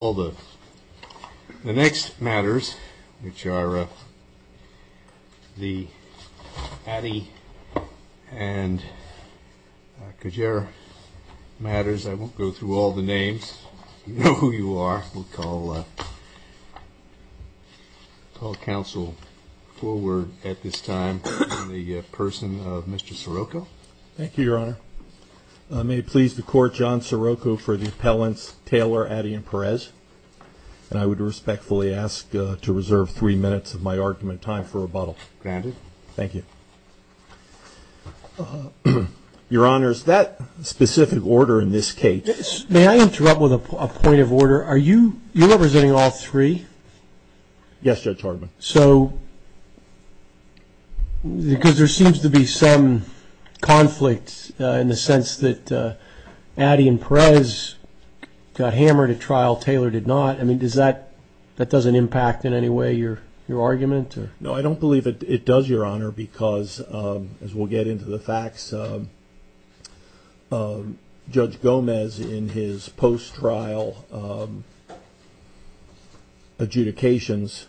The next matters, which are the Addie and Kjaeret matters, I won't go through all the names, you know who you are, we'll call counsel forward at this time, the person of Mr. Sirocco. Thank you, Your Honor. May it please the court, John Sirocco for the appellants Taylor, Addie, and Perez. And I would respectfully ask to reserve three minutes of my argument time for rebuttal. Granted. Thank you. Your Honor, is that specific order in this case? May I interrupt with a point of order? Are you representing all three? Yes, Judge Hardman. So, because there seems to be some conflict in the sense that Addie and Perez got hammered at trial, Taylor did not. I mean, does that, that doesn't impact in any way your argument? No, I don't believe it does, Your Honor, because as we'll get into the facts, Judge Gomez in his post-trial adjudications,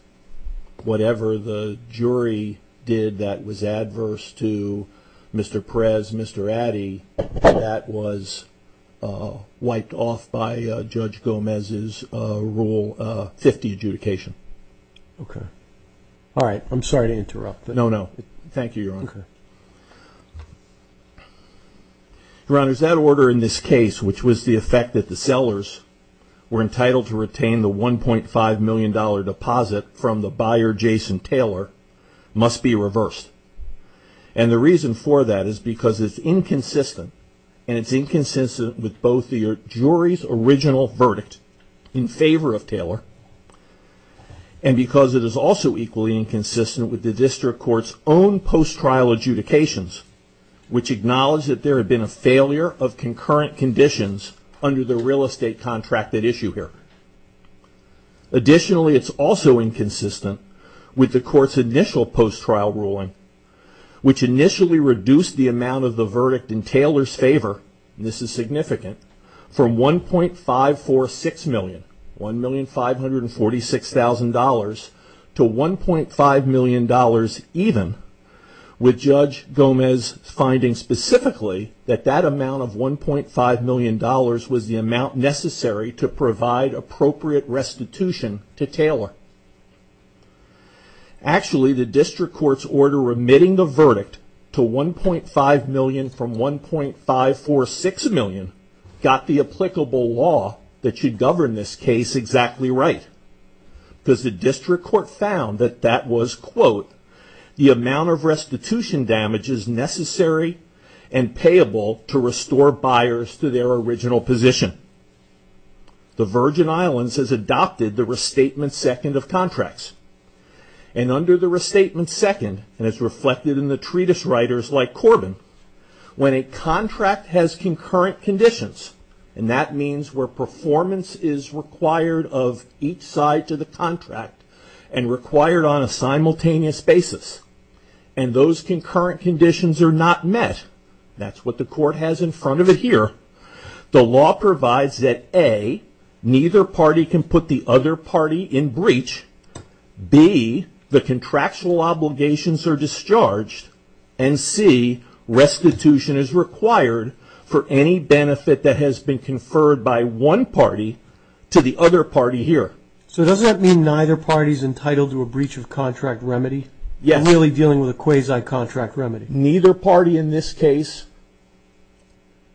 whatever the jury did that was adverse to Mr. Perez, Mr. Addie, that was wiped off by Judge Gomez's Rule 50 adjudication. Okay. All right. I'm sorry to interrupt. No, no. Thank you, Your Honor. Okay. Your Honor, is that order in this case, which was the effect that the sellers were entitled to retain the $1.5 million deposit from the buyer, Jason Taylor, must be reversed. And the reason for that is because it's inconsistent, and it's inconsistent with both the jury's original verdict in favor of Taylor, and because it is also equally inconsistent with the district court's own post-trial adjudications, which acknowledge that there had been a failure of concurrent conditions under the real estate contract at issue here. Additionally, it's also inconsistent with the court's initial post-trial ruling, which initially reduced the amount of the verdict in Taylor's favor, and this is significant, from $1.546 million, $1,546,000, to $1.5 million even, with Judge Gomez finding specifically that that amount of $1.5 million was the amount necessary to provide appropriate compensation. Actually, the district court's order remitting the verdict to $1.5 million from $1.546 million got the applicable law that should govern this case exactly right, because the district court found that that was, quote, the amount of restitution damage is necessary and payable to restore buyers to their original position. The Virgin Islands has adopted the restatement second of contracts, and under the restatement second, and it's reflected in the treatise writers like Corbin, when a contract has concurrent conditions, and that means where performance is required of each side to the contract, and required on a simultaneous basis, and those concurrent conditions are not met, that's what the court has in front of it here, the law provides that A, neither party can put the other party in breach, B, the contractual obligations are discharged, and C, restitution is required for any benefit that has been conferred by one party to the other party here. So does that mean neither party is entitled to a breach of contract remedy? Yes. Really dealing with a quasi-contract remedy? Neither party in this case,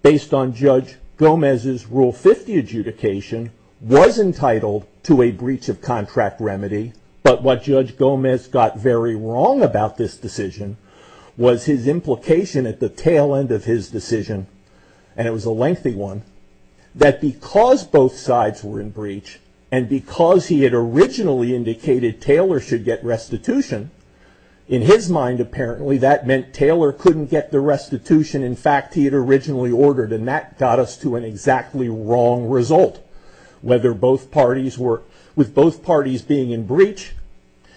based on Judge Gomez's Rule 50 adjudication, was entitled to a breach of contract remedy, but what Judge Gomez got very wrong about this decision was his implication at the tail end of his decision, and it was a lengthy one, that because both sides were in breach, and because he had originally indicated Taylor should get restitution, in his mind, apparently, that meant Taylor couldn't get the restitution, in fact, he had originally ordered, and that got us to an exactly wrong result. Whether both parties were, with both parties being in breach,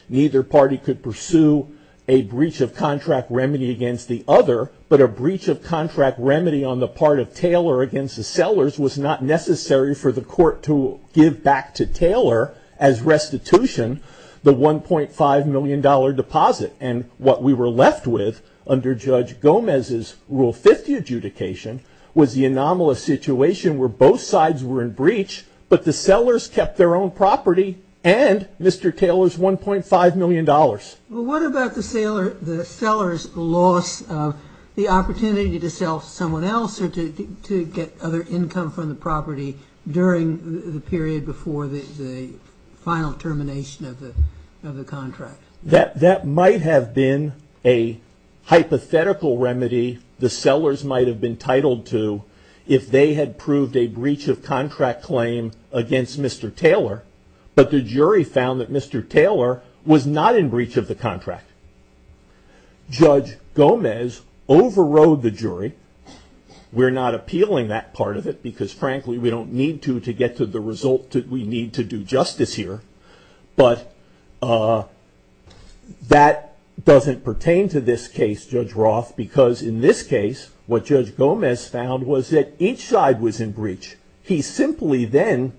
neither party could pursue a breach of contract remedy against the other, but a breach of contract remedy on the part of Taylor against the sellers was not necessary for the court to give back to Taylor, as restitution, the $1.5 million deposit, and what we were left with, under Judge Gomez's Rule 50 adjudication, was the anomalous situation where both sides were in breach, but the sellers kept their own property, and Mr. Taylor's $1.5 million. Well, what about the seller's loss of the opportunity to sell someone else, or to get other income from the property during the period before the final termination of the contract? That might have been a hypothetical remedy the sellers might have been titled to, if they had proved a breach of contract claim against Mr. Taylor, but the jury found that Mr. Taylor was not in breach of the contract. Judge Gomez overrode the jury. We're not appealing that part of it, because frankly, we don't need to to get to the result that we need to do justice here, but that doesn't pertain to this case, Judge Roth, because in this case, what Judge Gomez found was that each side was in breach. He simply then,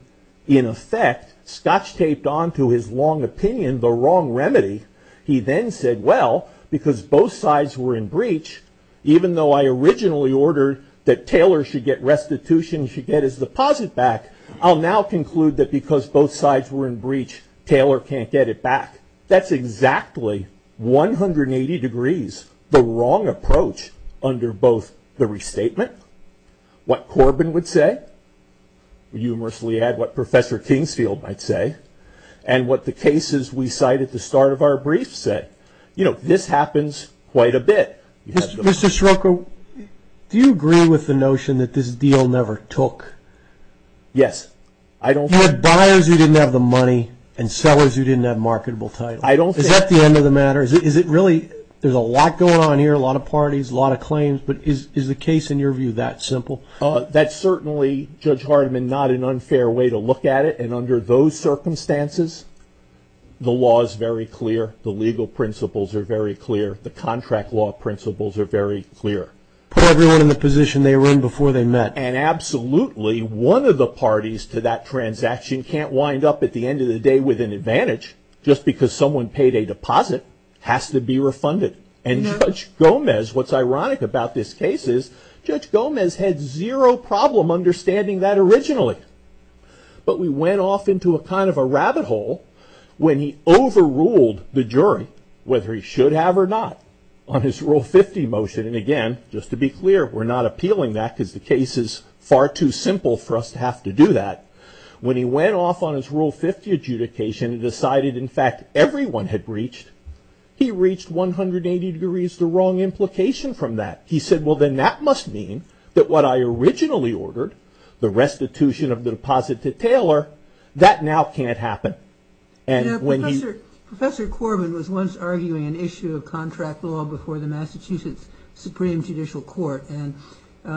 in effect, scotch-taped onto his long opinion the wrong remedy. He then said, well, because both sides were in breach, even though I originally ordered that Taylor should get restitution, he should get his deposit back, I'll now conclude that because both sides were in breach, Taylor can't get it back. That's exactly 180 degrees the wrong approach under both the restatement, what Corbin would say, humorously add what Professor Kingsfield might say, and what the cases we cite at the start of our briefs said. This happens quite a bit. Mr. Scirocco, do you agree with the notion that this deal never took? You had buyers who didn't have the money, and sellers who didn't have marketable title. Is that the end of the matter? Is it really, there's a lot going on here, a lot of parties, a lot of claims, but is the case in your view that simple? That's certainly, Judge Hardiman, not an unfair way to look at it, and under those circumstances, the law is very clear, the legal principles are very clear, the contract law principles are very clear. Put everyone in the position they were in before they met. And absolutely, one of the parties to that transaction can't wind up at the end of the day with an advantage, just because someone paid a deposit, has to be refunded. And Judge Gomez, what's ironic about this case is, Judge Gomez had zero problem understanding that originally. But we went off into a kind of a rabbit hole when he overruled the jury, whether he should have or not, on his Rule 50 motion, and again, just to be clear, we're not appealing that because the case is far too simple for us to have to do that. When he went off on his Rule 50 adjudication and decided, in fact, everyone had reached, he reached 180 degrees the wrong implication from that. He said, well, then that must mean that what I originally ordered, the restitution of the deposit to Taylor, that now can't happen. Professor Corbin was once arguing an issue of contract law before the Massachusetts Supreme Judicial Court. And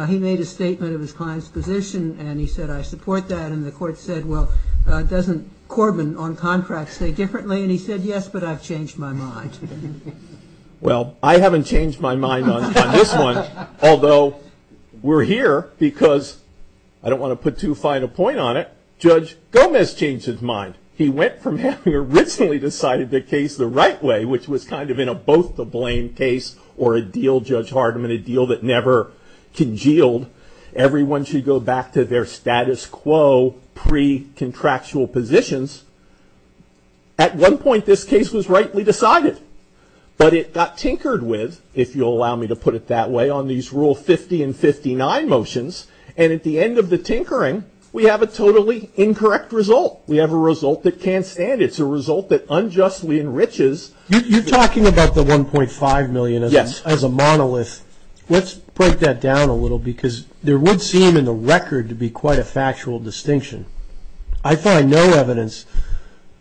he made a statement of his client's position, and he said, I support that. And the court said, well, doesn't Corbin on contract say differently? And he said, yes, but I've changed my mind. Well, I haven't changed my mind on this one, although we're here because, I don't want to put too fine a point on it, Judge Gomez changed his mind. He went from having originally decided the case the right way, which was kind of in a both to blame case or a deal, Judge Hardiman, a deal that never congealed. Everyone should go back to their status quo pre-contractual positions. At one point, this case was rightly decided, but it got tinkered with, if you'll allow me to put it that way, on these Rule 50 and 59 motions. And at the end of the tinkering, we have a totally incorrect result. We have a result that can't stand. It's a result that unjustly enriches. You're talking about the $1.5 million as a monolith. Let's break that down a little, because there would seem in the record to be quite a factual distinction. I find no evidence,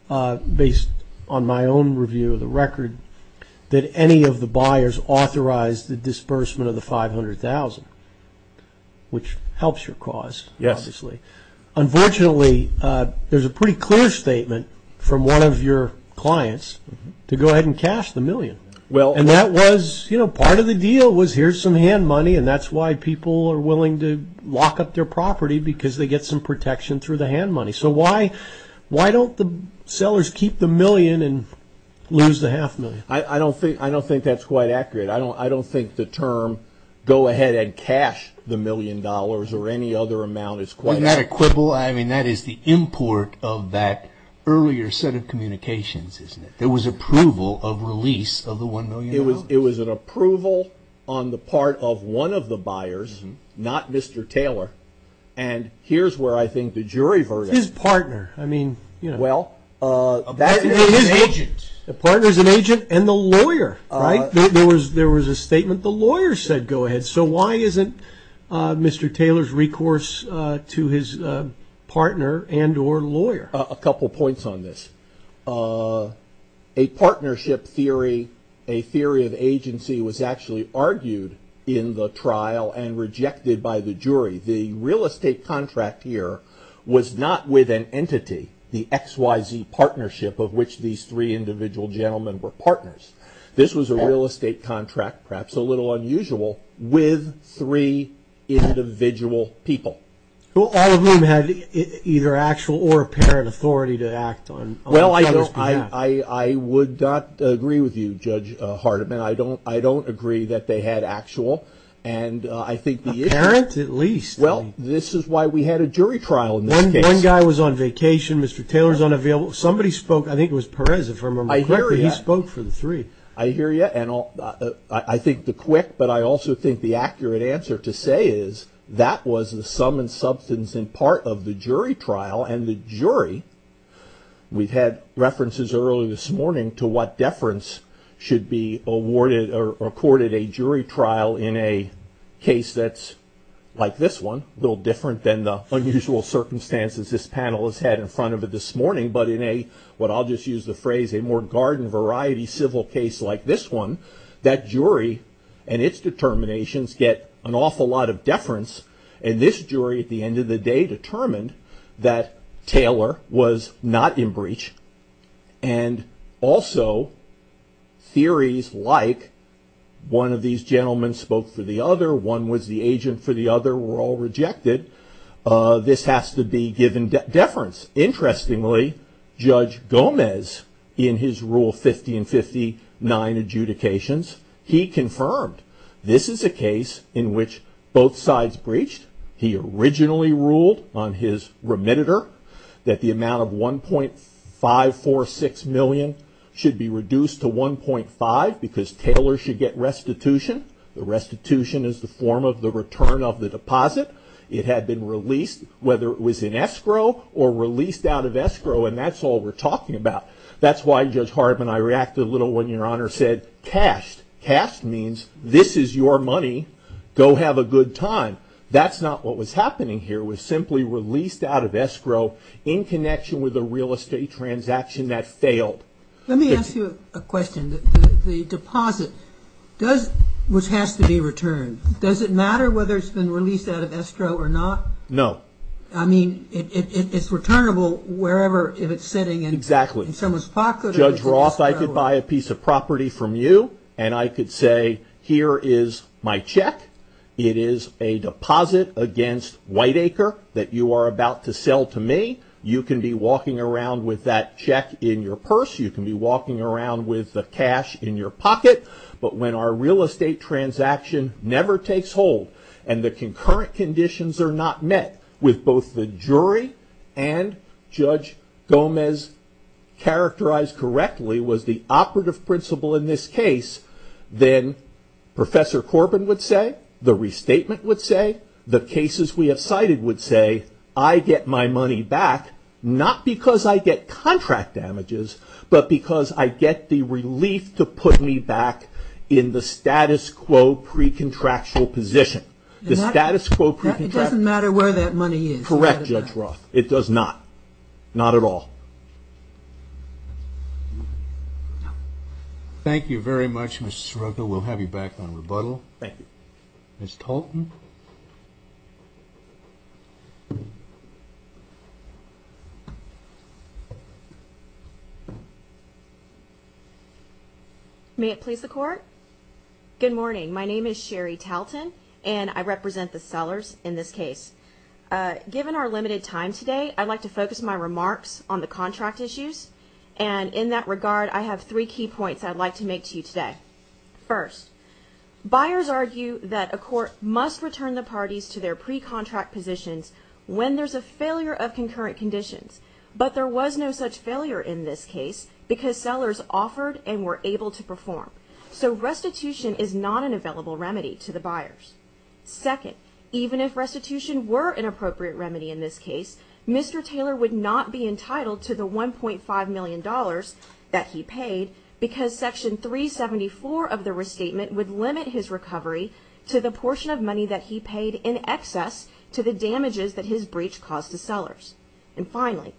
based on my own review of the record, that any of the buyers authorized the disbursement of the $500,000, which helps your cause, obviously. Unfortunately, there's a pretty clear statement from one of your clients to go ahead and cash the million. And that was, you know, part of the deal was here's some hand money, and that's why people are willing to lock up their property, because they get some protection through the hand money. So why don't the sellers keep the million and lose the half million? I don't think that's quite accurate. I don't think the term go ahead and cash the million dollars or any other amount is quite accurate. Wasn't that a quibble? I mean, that is the import of that earlier set of communications, isn't it? It was approval of release of the $1 million. It was an approval on the part of one of the buyers, not Mr. Taylor. And here's where I think the jury verdict. His partner. I mean, you know. Well, that is an agent. The partner is an agent and the lawyer, right? There was a statement. The lawyer said go ahead. So why isn't Mr. Taylor's recourse to his partner and or lawyer? A couple points on this. A partnership theory, a theory of agency was actually argued in the trial and rejected by the jury. The real estate contract here was not with an entity, the XYZ partnership of which these three individual gentlemen were partners. This was a real estate contract, perhaps a little unusual, with three individual people. All of whom had either actual or apparent authority to act on each other's behalf. Well, I would not agree with you, Judge Hardiman. I don't agree that they had actual and I think the issue. Apparent at least. Well, this is why we had a jury trial in this case. One guy was on vacation. Mr. Taylor's unavailable. Somebody spoke. I think it was Perez, if I remember correctly. He spoke for the three. I hear you. And I think the quick, but I also think the accurate answer to say is that was the sum and substance in part of the jury trial. And the jury, we've had references earlier this morning to what deference should be awarded or accorded a jury trial in a case that's like this one. A little different than the unusual circumstances this panel has had in front of it this morning. But in a, what I'll just use the phrase, a more garden variety civil case like this one. That jury and its determinations get an awful lot of deference. And this jury at the end of the day determined that Taylor was not in breach. And also theories like one of these gentlemen spoke for the other. One was the agent for the other were all rejected. This has to be given deference. Interestingly, Judge Gomez in his rule 50 and 59 adjudications, he confirmed this is a case in which both sides breached. He originally ruled on his remitter that the amount of 1.546 million should be reduced to 1.5 because Taylor should get restitution. The restitution is the form of the return of the deposit. It had been released whether it was in escrow or released out of escrow. And that's all we're talking about. That's why Judge Harb and I reacted a little when your honor said cashed. Cashed means this is your money. Go have a good time. That's not what was happening here. It was simply released out of escrow in connection with a real estate transaction that failed. Let me ask you a question. The deposit does, which has to be returned. Does it matter whether it's been released out of escrow or not? No. I mean, it's returnable wherever, if it's sitting in someone's pocket. Exactly. Judge Roth, I could buy a piece of property from you and I could say, here is my check. It is a deposit against Whiteacre that you are about to sell to me. You can be walking around with that check in your purse. You can be walking around with the cash in your pocket. But when our real estate transaction never takes hold and the concurrent conditions are not met with both the jury and Judge Gomez characterized correctly was the operative principle in this case, then Professor Corbin would say, the restatement would say, the cases we have cited would say, I get my money back, not because I get contract damages, but because I get the relief to put me back in the status quo pre-contractual position. The status quo pre-contractual position. It doesn't matter where that money is. Correct, Judge Roth. It does not. Not at all. Thank you very much, Mr. Scirocco. We'll have you back on rebuttal. Thank you. Ms. Talton. May it please the Court? Good morning. My name is Sherry Talton, and I represent the sellers in this case. Given our limited time today, I'd like to focus my remarks on the contract issues. And in that regard, I have three key points I'd like to make to you today. First, buyers argue that a court must return the parties to their pre-contract positions when there's a failure of concurrent conditions. But there was no such failure in this case because sellers offered and were able to perform. So restitution is not an available remedy to the buyers. Second, even if restitution were an appropriate remedy in this case, Mr. Taylor would not be entitled to the $1.5 million that he paid because Section 374 of the restatement would limit his recovery to the portion of money that he paid in excess to the damages that his breach caused to sellers. And finally,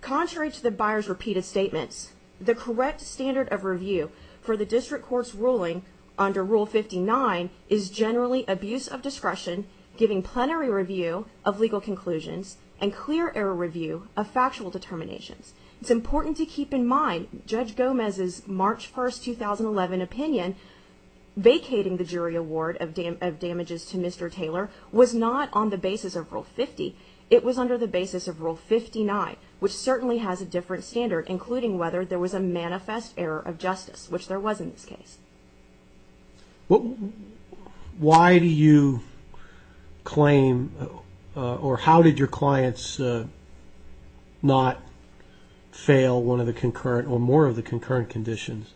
contrary to the buyers' repeated statements, the correct standard of review for the district court's ruling under Rule 59 is generally abuse of discretion, giving plenary review of legal conclusions, and clear error review of factual determinations. It's important to keep in mind Judge Gomez's March 1, 2011 opinion, vacating the jury award of damages to Mr. Taylor was not on the basis of Rule 50. It was under the basis of Rule 59, which certainly has a different standard, including whether there was a manifest error of justice, which there was in this case. Why do you claim or how did your clients not fail one of the concurrent or more of the concurrent conditions,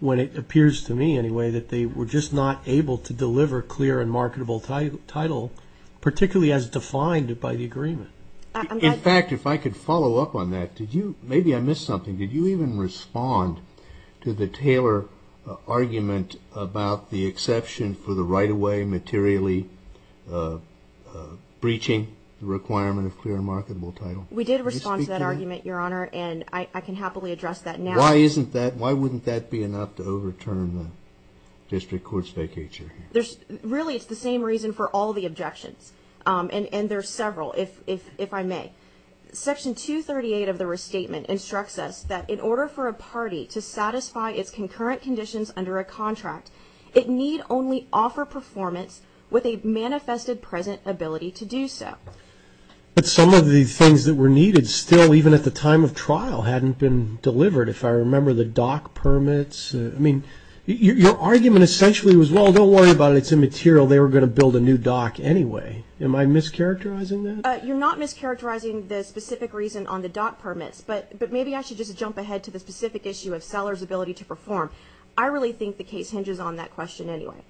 when it appears to me anyway that they were just not able to deliver clear and marketable title, particularly as defined by the agreement? In fact, if I could follow up on that, maybe I missed something. Did you even respond to the Taylor argument about the exception for the right-of-way materially breaching the requirement of clear and marketable title? We did respond to that argument, Your Honor, and I can happily address that now. Why wouldn't that be enough to overturn the district court's vacate jury? Really, it's the same reason for all the objections, and there are several, if I may. Section 238 of the restatement instructs us that in order for a party to satisfy its concurrent conditions under a contract, it need only offer performance with a manifested present ability to do so. But some of the things that were needed still, even at the time of trial, hadn't been delivered. If I remember, the dock permits. I mean, your argument essentially was, well, don't worry about it. It's immaterial. They were going to build a new dock anyway. Am I mischaracterizing that? You're not mischaracterizing the specific reason on the dock permits, but maybe I should just jump ahead to the specific issue of sellers' ability to perform. I really think the case hinges on that question anyway.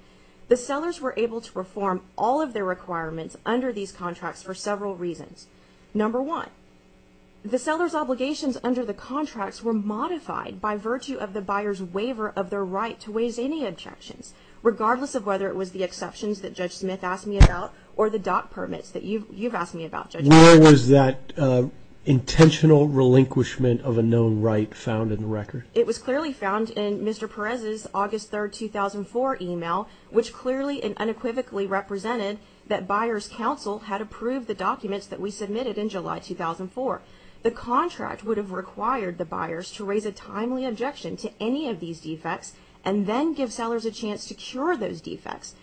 The sellers were able to perform all of their requirements under these contracts for several reasons. Number one, the sellers' obligations under the contracts were modified by virtue of the buyer's waiver of their right to raise any objections, regardless of whether it was the exceptions that Judge Smith asked me about or the dock permits that you've asked me about, Judge. Where was that intentional relinquishment of a known right found in the record? It was clearly found in Mr. Perez's August 3, 2004, email, which clearly and unequivocally represented that Buyer's Counsel had approved the documents that we submitted in July 2004. The contract would have required the buyers to raise a timely objection to any of these defects and then give sellers a chance to cure those defects.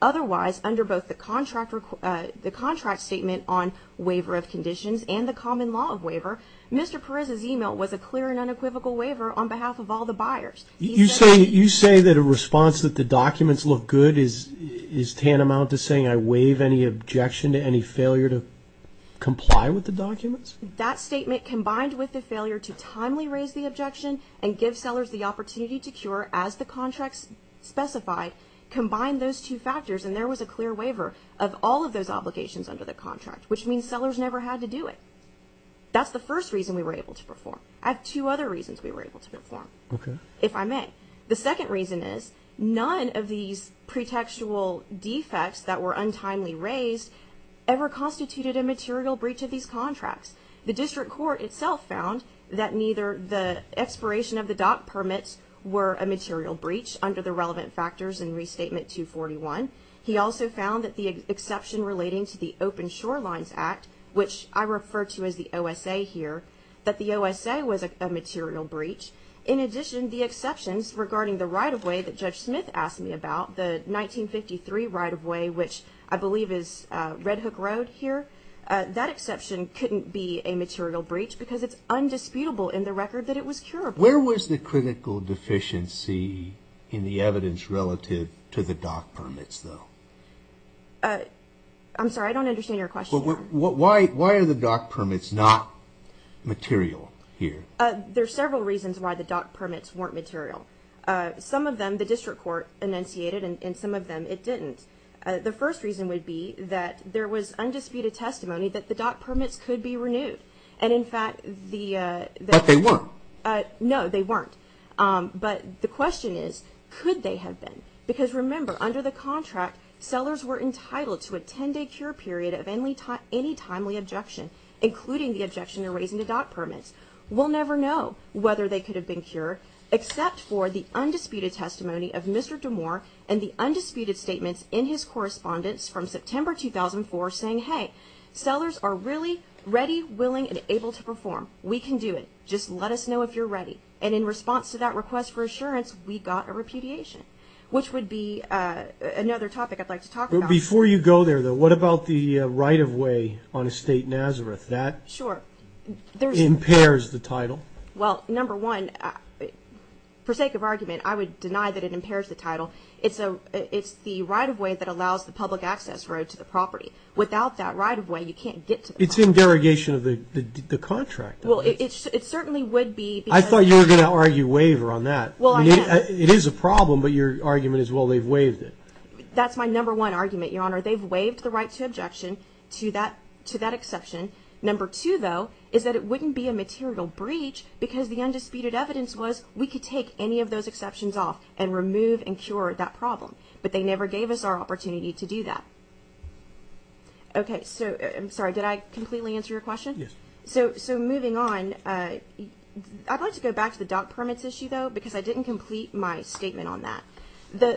Otherwise, under both the contract statement on waiver of conditions and the common law of waiver, Mr. Perez's email was a clear and unequivocal waiver on behalf of all the buyers. You say that a response that the documents look good is tantamount to saying I waive any objection to any failure to comply with the documents? That statement, combined with the failure to timely raise the objection and give sellers the opportunity to cure as the contracts specified, combined those two factors and there was a clear waiver of all of those obligations under the contract, which means sellers never had to do it. That's the first reason we were able to perform. I have two other reasons we were able to perform, if I may. The second reason is none of these pretextual defects that were untimely raised ever constituted a material breach of these contracts. The district court itself found that neither the expiration of the dock permits were a material breach under the relevant factors in Restatement 241. He also found that the exception relating to the Open Shorelines Act, which I refer to as the OSA here, that the OSA was a material breach. In addition, the exceptions regarding the right-of-way that Judge Smith asked me about, the 1953 right-of-way, which I believe is Red Hook Road here, that exception couldn't be a material breach because it's undisputable in the record that it was curable. Where was the critical deficiency in the evidence relative to the dock permits, though? I'm sorry, I don't understand your question. Why are the dock permits not material here? There are several reasons why the dock permits weren't material. Some of them the district court enunciated, and some of them it didn't. The first reason would be that there was undisputed testimony that the dock permits could be renewed. But they weren't. No, they weren't. But the question is, could they have been? Because remember, under the contract, sellers were entitled to a 10-day cure period of any timely objection, including the objection to raising the dock permits. We'll never know whether they could have been cured, except for the undisputed testimony of Mr. DeMoor and the undisputed statements in his correspondence from September 2004 saying, hey, sellers are really ready, willing, and able to perform. We can do it. Just let us know if you're ready. And in response to that request for assurance, we got a repudiation, which would be another topic I'd like to talk about. Before you go there, though, what about the right-of-way on Estate Nazareth? That impairs the title. Well, number one, for sake of argument, I would deny that it impairs the title. It's in derogation of the contract. Well, it certainly would be. I thought you were going to argue waiver on that. Well, I am. It is a problem, but your argument is, well, they've waived it. That's my number one argument, Your Honor. They've waived the right to objection to that exception. Number two, though, is that it wouldn't be a material breach because the undisputed evidence was we could take any of those exceptions off and remove and cure that problem. But they never gave us our opportunity to do that. Okay, so I'm sorry, did I completely answer your question? Yes. So moving on, I'd like to go back to the doc permits issue, though, because I didn't complete my statement on that.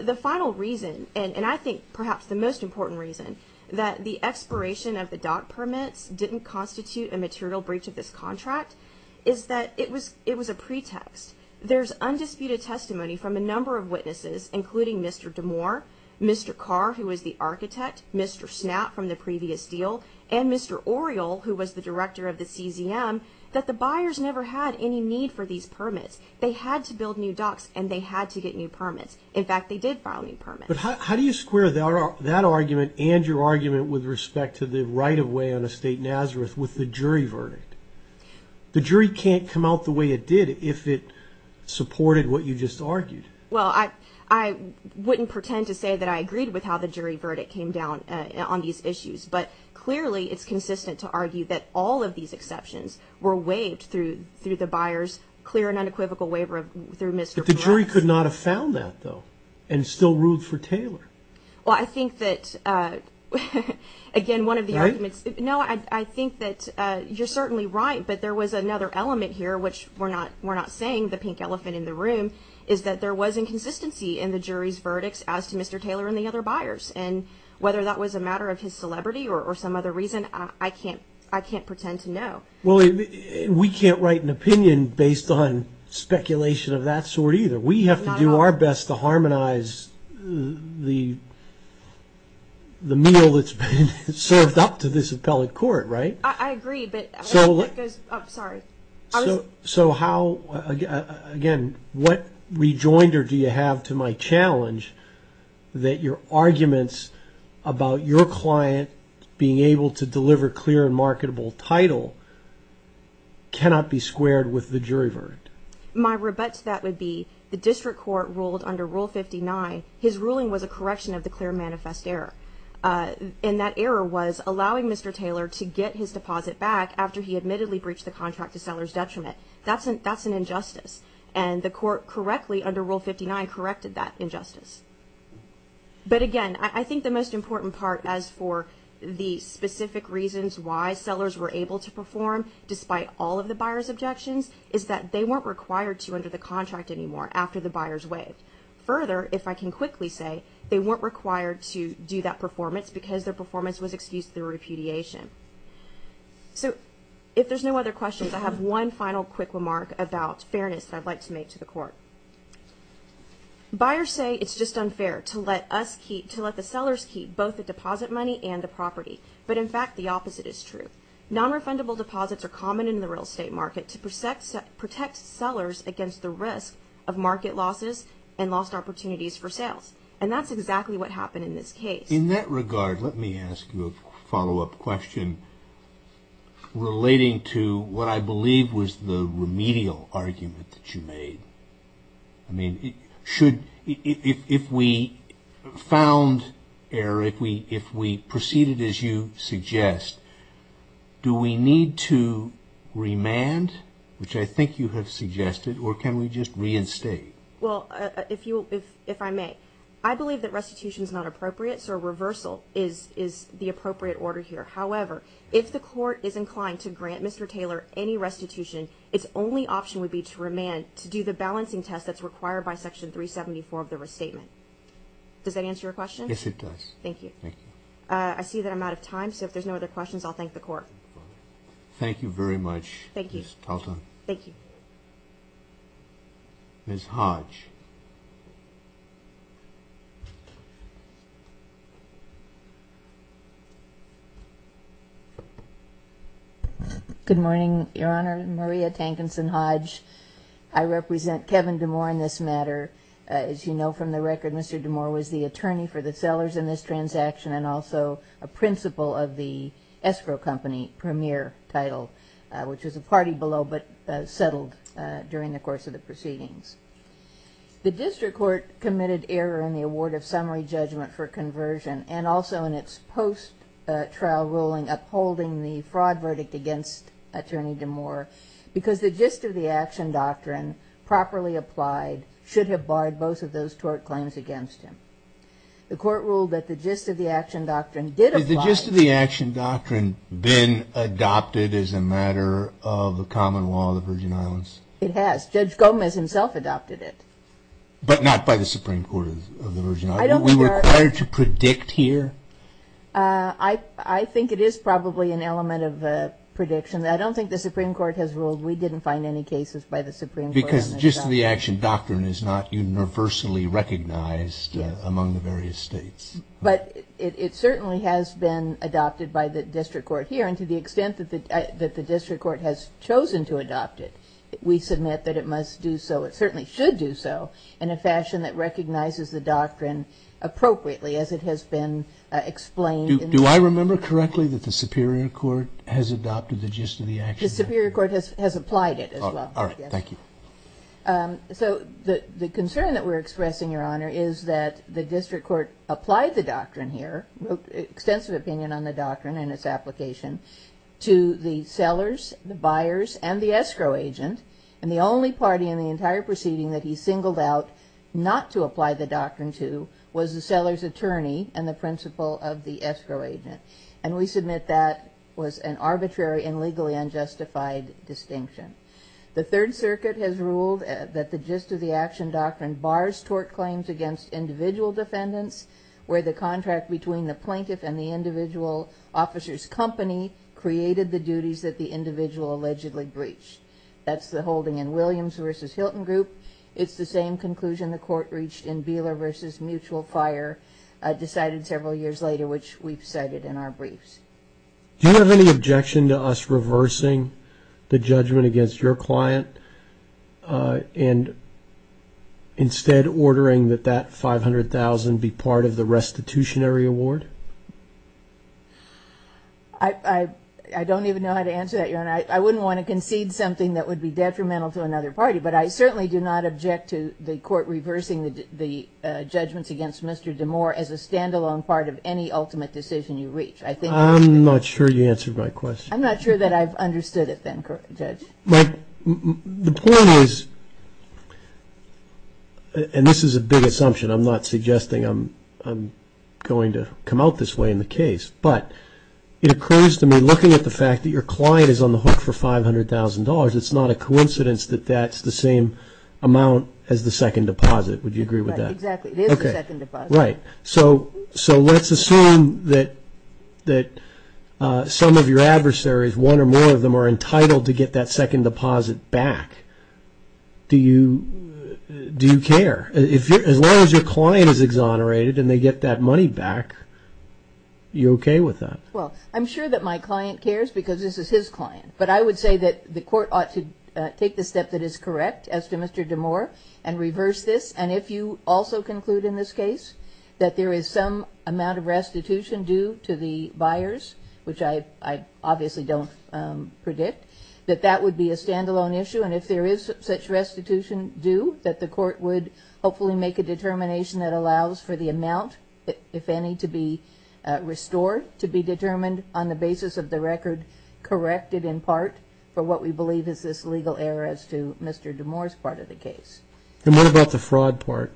The final reason, and I think perhaps the most important reason, that the expiration of the doc permits didn't constitute a material breach of this contract is that it was a pretext. There's undisputed testimony from a number of witnesses, including Mr. DeMoor, Mr. Carr, who was the architect, Mr. Snapp from the previous deal, and Mr. Oriel, who was the director of the CZM, that the buyers never had any need for these permits. They had to build new docks and they had to get new permits. In fact, they did file new permits. But how do you square that argument and your argument with respect to the right-of-way on Estate Nazareth with the jury verdict? The jury can't come out the way it did if it supported what you just argued. Well, I wouldn't pretend to say that I agreed with how the jury verdict came down on these issues, but clearly it's consistent to argue that all of these exceptions were waived through the buyers' clear and unequivocal waiver through Mr. Blacks. But the jury could not have found that, though, and still ruled for Taylor. Well, I think that, again, one of the arguments. Right? No, I think that you're certainly right, but there was another element here, which we're not saying the pink elephant in the room, is that there was inconsistency in the jury's verdicts as to Mr. Taylor and the other buyers. And whether that was a matter of his celebrity or some other reason, I can't pretend to know. Well, we can't write an opinion based on speculation of that sort either. We have to do our best to harmonize the meal that's been served up to this appellate court, right? I agree, but I'm sorry. So how, again, what rejoinder do you have to my challenge that your arguments about your client being able to deliver clear and marketable title cannot be squared with the jury verdict? My rebutt to that would be the district court ruled under Rule 59, his ruling was a correction of the clear manifest error. And that error was allowing Mr. Taylor to get his deposit back after he admittedly breached the contract to seller's detriment. That's an injustice. And the court correctly, under Rule 59, corrected that injustice. But, again, I think the most important part as for the specific reasons why sellers were able to perform, despite all of the buyer's objections, is that they weren't required to under the contract anymore after the buyers waived. Further, if I can quickly say, they weren't required to do that performance because their performance was excused through repudiation. So if there's no other questions, I have one final quick remark about fairness that I'd like to make to the court. Buyers say it's just unfair to let us keep, to let the sellers keep both the deposit money and the property. But, in fact, the opposite is true. Non-refundable deposits are common in the real estate market to protect sellers against the risk of market losses and lost opportunities for sales. And that's exactly what happened in this case. In that regard, let me ask you a follow-up question relating to what I believe was the remedial argument that you made. I mean, if we found error, if we proceeded as you suggest, do we need to remand, which I think you have suggested, or can we just reinstate? Well, if I may, I believe that restitution is not appropriate, so a reversal is the appropriate order here. However, if the court is inclined to grant Mr. Taylor any restitution, its only option would be to remand, to do the balancing test that's required by Section 374 of the restatement. Does that answer your question? Yes, it does. Thank you. Thank you. I see that I'm out of time, so if there's no other questions, I'll thank the court. Thank you very much, Ms. Talton. Thank you. Ms. Hodge. Good morning, Your Honor. Maria Tankinson Hodge. I represent Kevin DeMoore in this matter. As you know from the record, Mr. DeMoore was the attorney for the sellers in this transaction and also a principal of the escrow company, Premier Title, which was a party below but settled during the course of the proceedings. The district court committed error in the award of summary judgment for conversion and also in its post-trial ruling upholding the fraud verdict against Attorney DeMoore because the gist of the action doctrine properly applied should have barred both of those tort claims against him. The court ruled that the gist of the action doctrine did apply. Has the gist of the action doctrine been adopted as a matter of the common law of the Virgin Islands? It has. Judge Gomez himself adopted it. But not by the Supreme Court of the Virgin Islands? Are we required to predict here? I think it is probably an element of a prediction. I don't think the Supreme Court has ruled we didn't find any cases by the Supreme Court. Because the gist of the action doctrine is not universally recognized among the various states. But it certainly has been adopted by the district court here, and to the extent that the district court has chosen to adopt it, we submit that it must do so, it certainly should do so, in a fashion that recognizes the doctrine appropriately as it has been explained. Do I remember correctly that the superior court has adopted the gist of the action doctrine? The superior court has applied it as well. All right. Thank you. So the concern that we're expressing, Your Honor, is that the district court applied the doctrine here, wrote extensive opinion on the doctrine and its application, to the sellers, the buyers, and the escrow agent. And the only party in the entire proceeding that he singled out not to apply the doctrine to was the seller's attorney and the principal of the escrow agent. And we submit that was an arbitrary and legally unjustified distinction. The Third Circuit has ruled that the gist of the action doctrine bars tort claims against individual defendants, where the contract between the plaintiff and the individual officer's company created the duties that the individual allegedly breached. That's the holding in Williams v. Hilton Group. It's the same conclusion the court reached in Beeler v. Mutual Fire, decided several years later, which we've cited in our briefs. Do you have any objection to us reversing the judgment against your client and instead ordering that that $500,000 be part of the restitutionary award? I don't even know how to answer that, Your Honor. I wouldn't want to concede something that would be detrimental to another party, but I certainly do not object to the court reversing the judgments against Mr. DeMoor as a standalone part of any ultimate decision you reach. I'm not sure you answered my question. I'm not sure that I've understood it then, Judge. The point is, and this is a big assumption, I'm not suggesting I'm going to come out this way in the case, but it occurs to me looking at the fact that your client is on the hook for $500,000, it's not a coincidence that that's the same amount as the second deposit. Would you agree with that? Exactly. It is the second deposit. Right. So let's assume that some of your adversaries, one or more of them, are entitled to get that second deposit back. Do you care? As long as your client is exonerated and they get that money back, are you okay with that? Well, I'm sure that my client cares because this is his client, but I would say that the court ought to take the step that is correct as to Mr. DeMoor and reverse this, and if you also conclude in this case that there is some amount of restitution due to the buyers, which I obviously don't predict, that that would be a standalone issue, and if there is such restitution due, that the court would hopefully make a determination that allows for the amount, if any, to be restored to be determined on the basis of the record corrected in part for what we believe is this legal error as to Mr. DeMoor's part of the case. And what about the fraud part?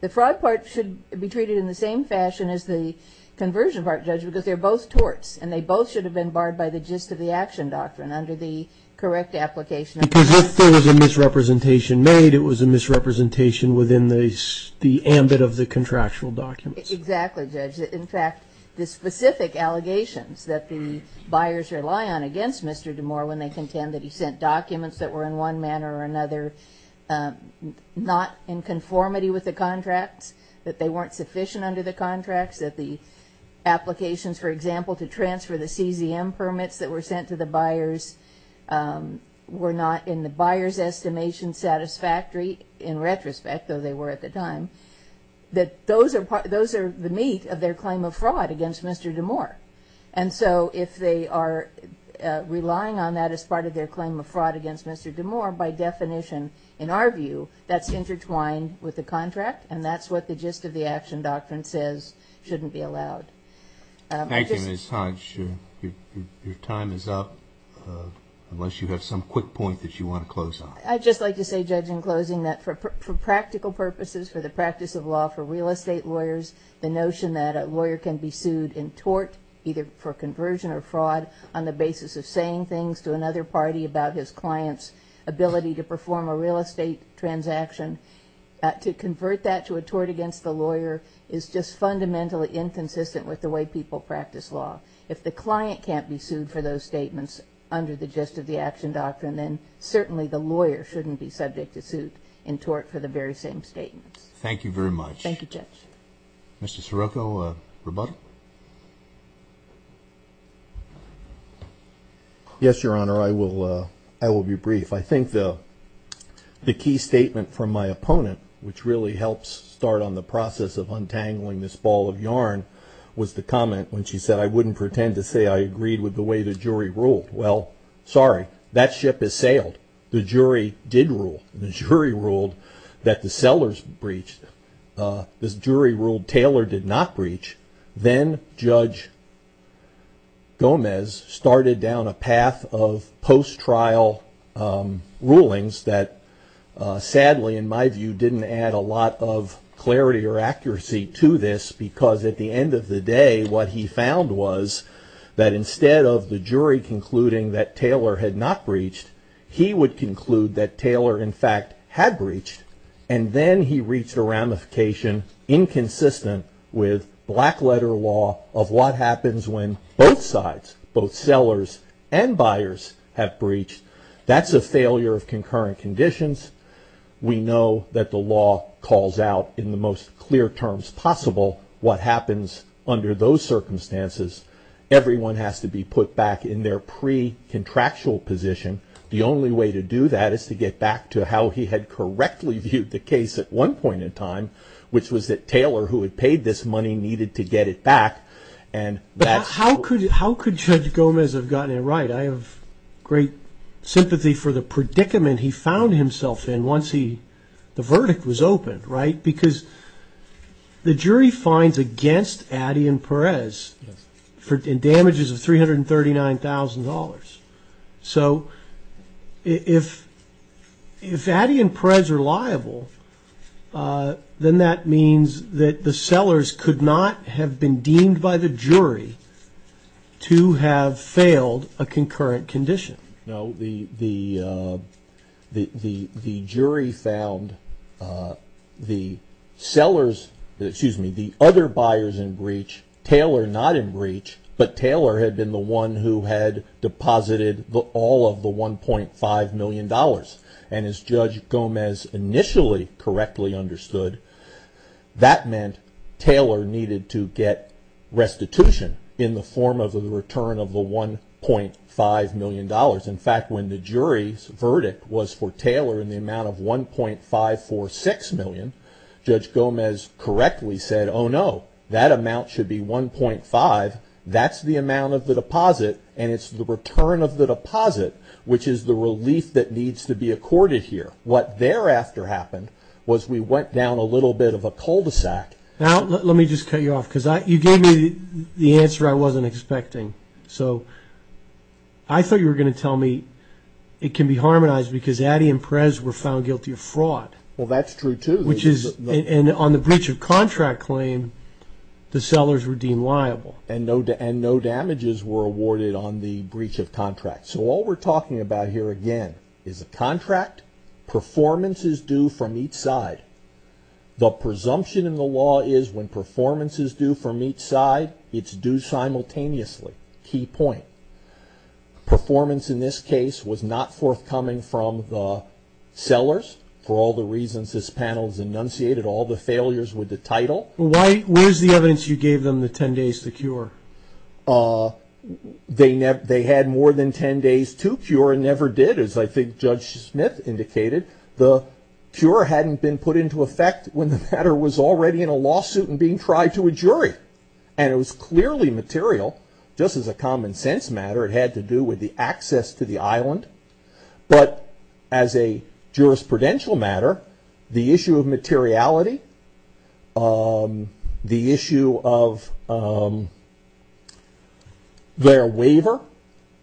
The fraud part should be treated in the same fashion as the conversion part, Judge, because they're both torts, and they both should have been barred by the gist of the action doctrine under the correct application. Because if there was a misrepresentation made, it was a misrepresentation within the ambit of the contractual documents. Exactly, Judge. In fact, the specific allegations that the buyers rely on against Mr. DeMoor when they contend that he sent documents that were in one manner or another not in conformity with the contracts, that they weren't sufficient under the contracts, that the applications, for example, to transfer the CZM permits that were sent to the buyers were not in the buyer's estimation satisfactory, in retrospect, though they were at the time, that those are the meat of their claim of fraud against Mr. DeMoor. And so if they are relying on that as part of their claim of fraud against Mr. DeMoor, by definition, in our view, that's intertwined with the contract, and that's what the gist of the action doctrine says shouldn't be allowed. Thank you, Ms. Hodge. Your time is up, unless you have some quick point that you want to close on. I'd just like to say, Judge, in closing, that for practical purposes, for the practice of law for real estate lawyers, the notion that a lawyer can be sued in tort, either for conversion or fraud, on the basis of saying things to another party about his client's ability to perform a real estate transaction, to convert that to a tort against the lawyer is just fundamentally inconsistent with the way people practice law. If the client can't be sued for those statements under the gist of the action doctrine, then certainly the lawyer shouldn't be subject to suit in tort for the very same statements. Thank you very much. Thank you, Judge. Mr. Scirocco, rebuttal? Yes, Your Honor, I will be brief. I think the key statement from my opponent, which really helps start on the process of untangling this ball of yarn, was the comment when she said, I wouldn't pretend to say I agreed with the way the jury ruled. Well, sorry, that ship has sailed. The jury did rule. The jury ruled that the sellers breached. The jury ruled Taylor did not breach. Then Judge Gomez started down a path of post-trial rulings that sadly, in my view, didn't add a lot of clarity or accuracy to this, because at the end of the day what he found was that instead of the jury concluding that Taylor had not breached, he would conclude that Taylor, in fact, had breached, and then he reached a ramification inconsistent with black-letter law of what happens when both sides, both sellers and buyers, have breached. That's a failure of concurrent conditions. We know that the law calls out, in the most clear terms possible, what happens under those circumstances. Everyone has to be put back in their pre-contractual position. The only way to do that is to get back to how he had correctly viewed the case at one point in time, which was that Taylor, who had paid this money, needed to get it back. But how could Judge Gomez have gotten it right? I have great sympathy for the predicament he found himself in once the verdict was opened, right? Because the jury finds against Addy and Perez damages of $339,000. So if Addy and Perez are liable, then that means that the sellers could not have been deemed by the jury to have failed a concurrent condition. No, the jury found the sellers, excuse me, the other buyers in breach, Taylor not in breach, but Taylor had been the one who had deposited all of the $1.5 million. And as Judge Gomez initially correctly understood, that meant Taylor needed to get restitution in the form of a return of the $1.5 million. In fact, when the jury's verdict was for Taylor in the amount of $1.546 million, Judge Gomez correctly said, oh no, that amount should be $1.5. That's the amount of the deposit and it's the return of the deposit, which is the relief that needs to be accorded here. What thereafter happened was we went down a little bit of a cul-de-sac. Now let me just cut you off because you gave me the answer I wasn't expecting. So I thought you were going to tell me it can be harmonized because Addy and Perez were found guilty of fraud. Well, that's true too. And on the breach of contract claim, the sellers were deemed liable. And no damages were awarded on the breach of contract. So all we're talking about here again is a contract, performance is due from each side. The presumption in the law is when performance is due from each side, it's due simultaneously. Key point. Performance in this case was not forthcoming from the sellers for all the reasons this panel has enunciated, all the failures with the title. Where's the evidence you gave them the 10 days to cure? They had more than 10 days to cure and never did, as I think Judge Smith indicated. The cure hadn't been put into effect when the matter was already in a lawsuit and being tried to a jury. And it was clearly material, just as a common sense matter, it had to do with the access to the island. But as a jurisprudential matter, the issue of materiality, the issue of their waiver,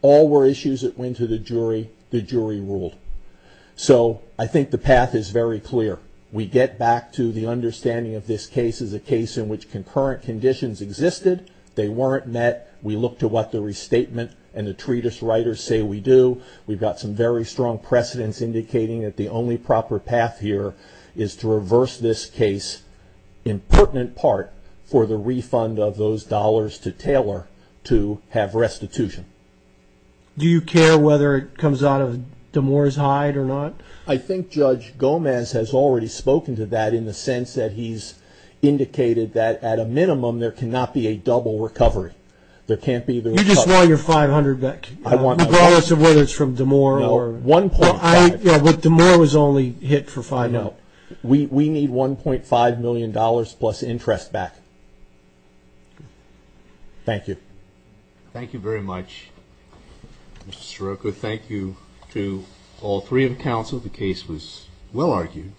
all were issues that went to the jury, the jury ruled. So I think the path is very clear. We get back to the understanding of this case as a case in which concurrent conditions existed. They weren't met. We look to what the restatement and the treatise writers say we do. We've got some very strong precedents indicating that the only proper path here is to reverse this case, in pertinent part, for the refund of those dollars to Taylor to have restitution. Do you care whether it comes out of Damore's hide or not? I think Judge Gomez has already spoken to that in the sense that he's indicated that, at a minimum, there cannot be a double recovery. You just want your $500 back, regardless of whether it's from Damore. No, $1.5 million. But Damore was only hit for $500. No. We need $1.5 million plus interest back. Thank you. Thank you very much, Mr. Scirocco. Thank you to all three of the counsel. The case was well argued.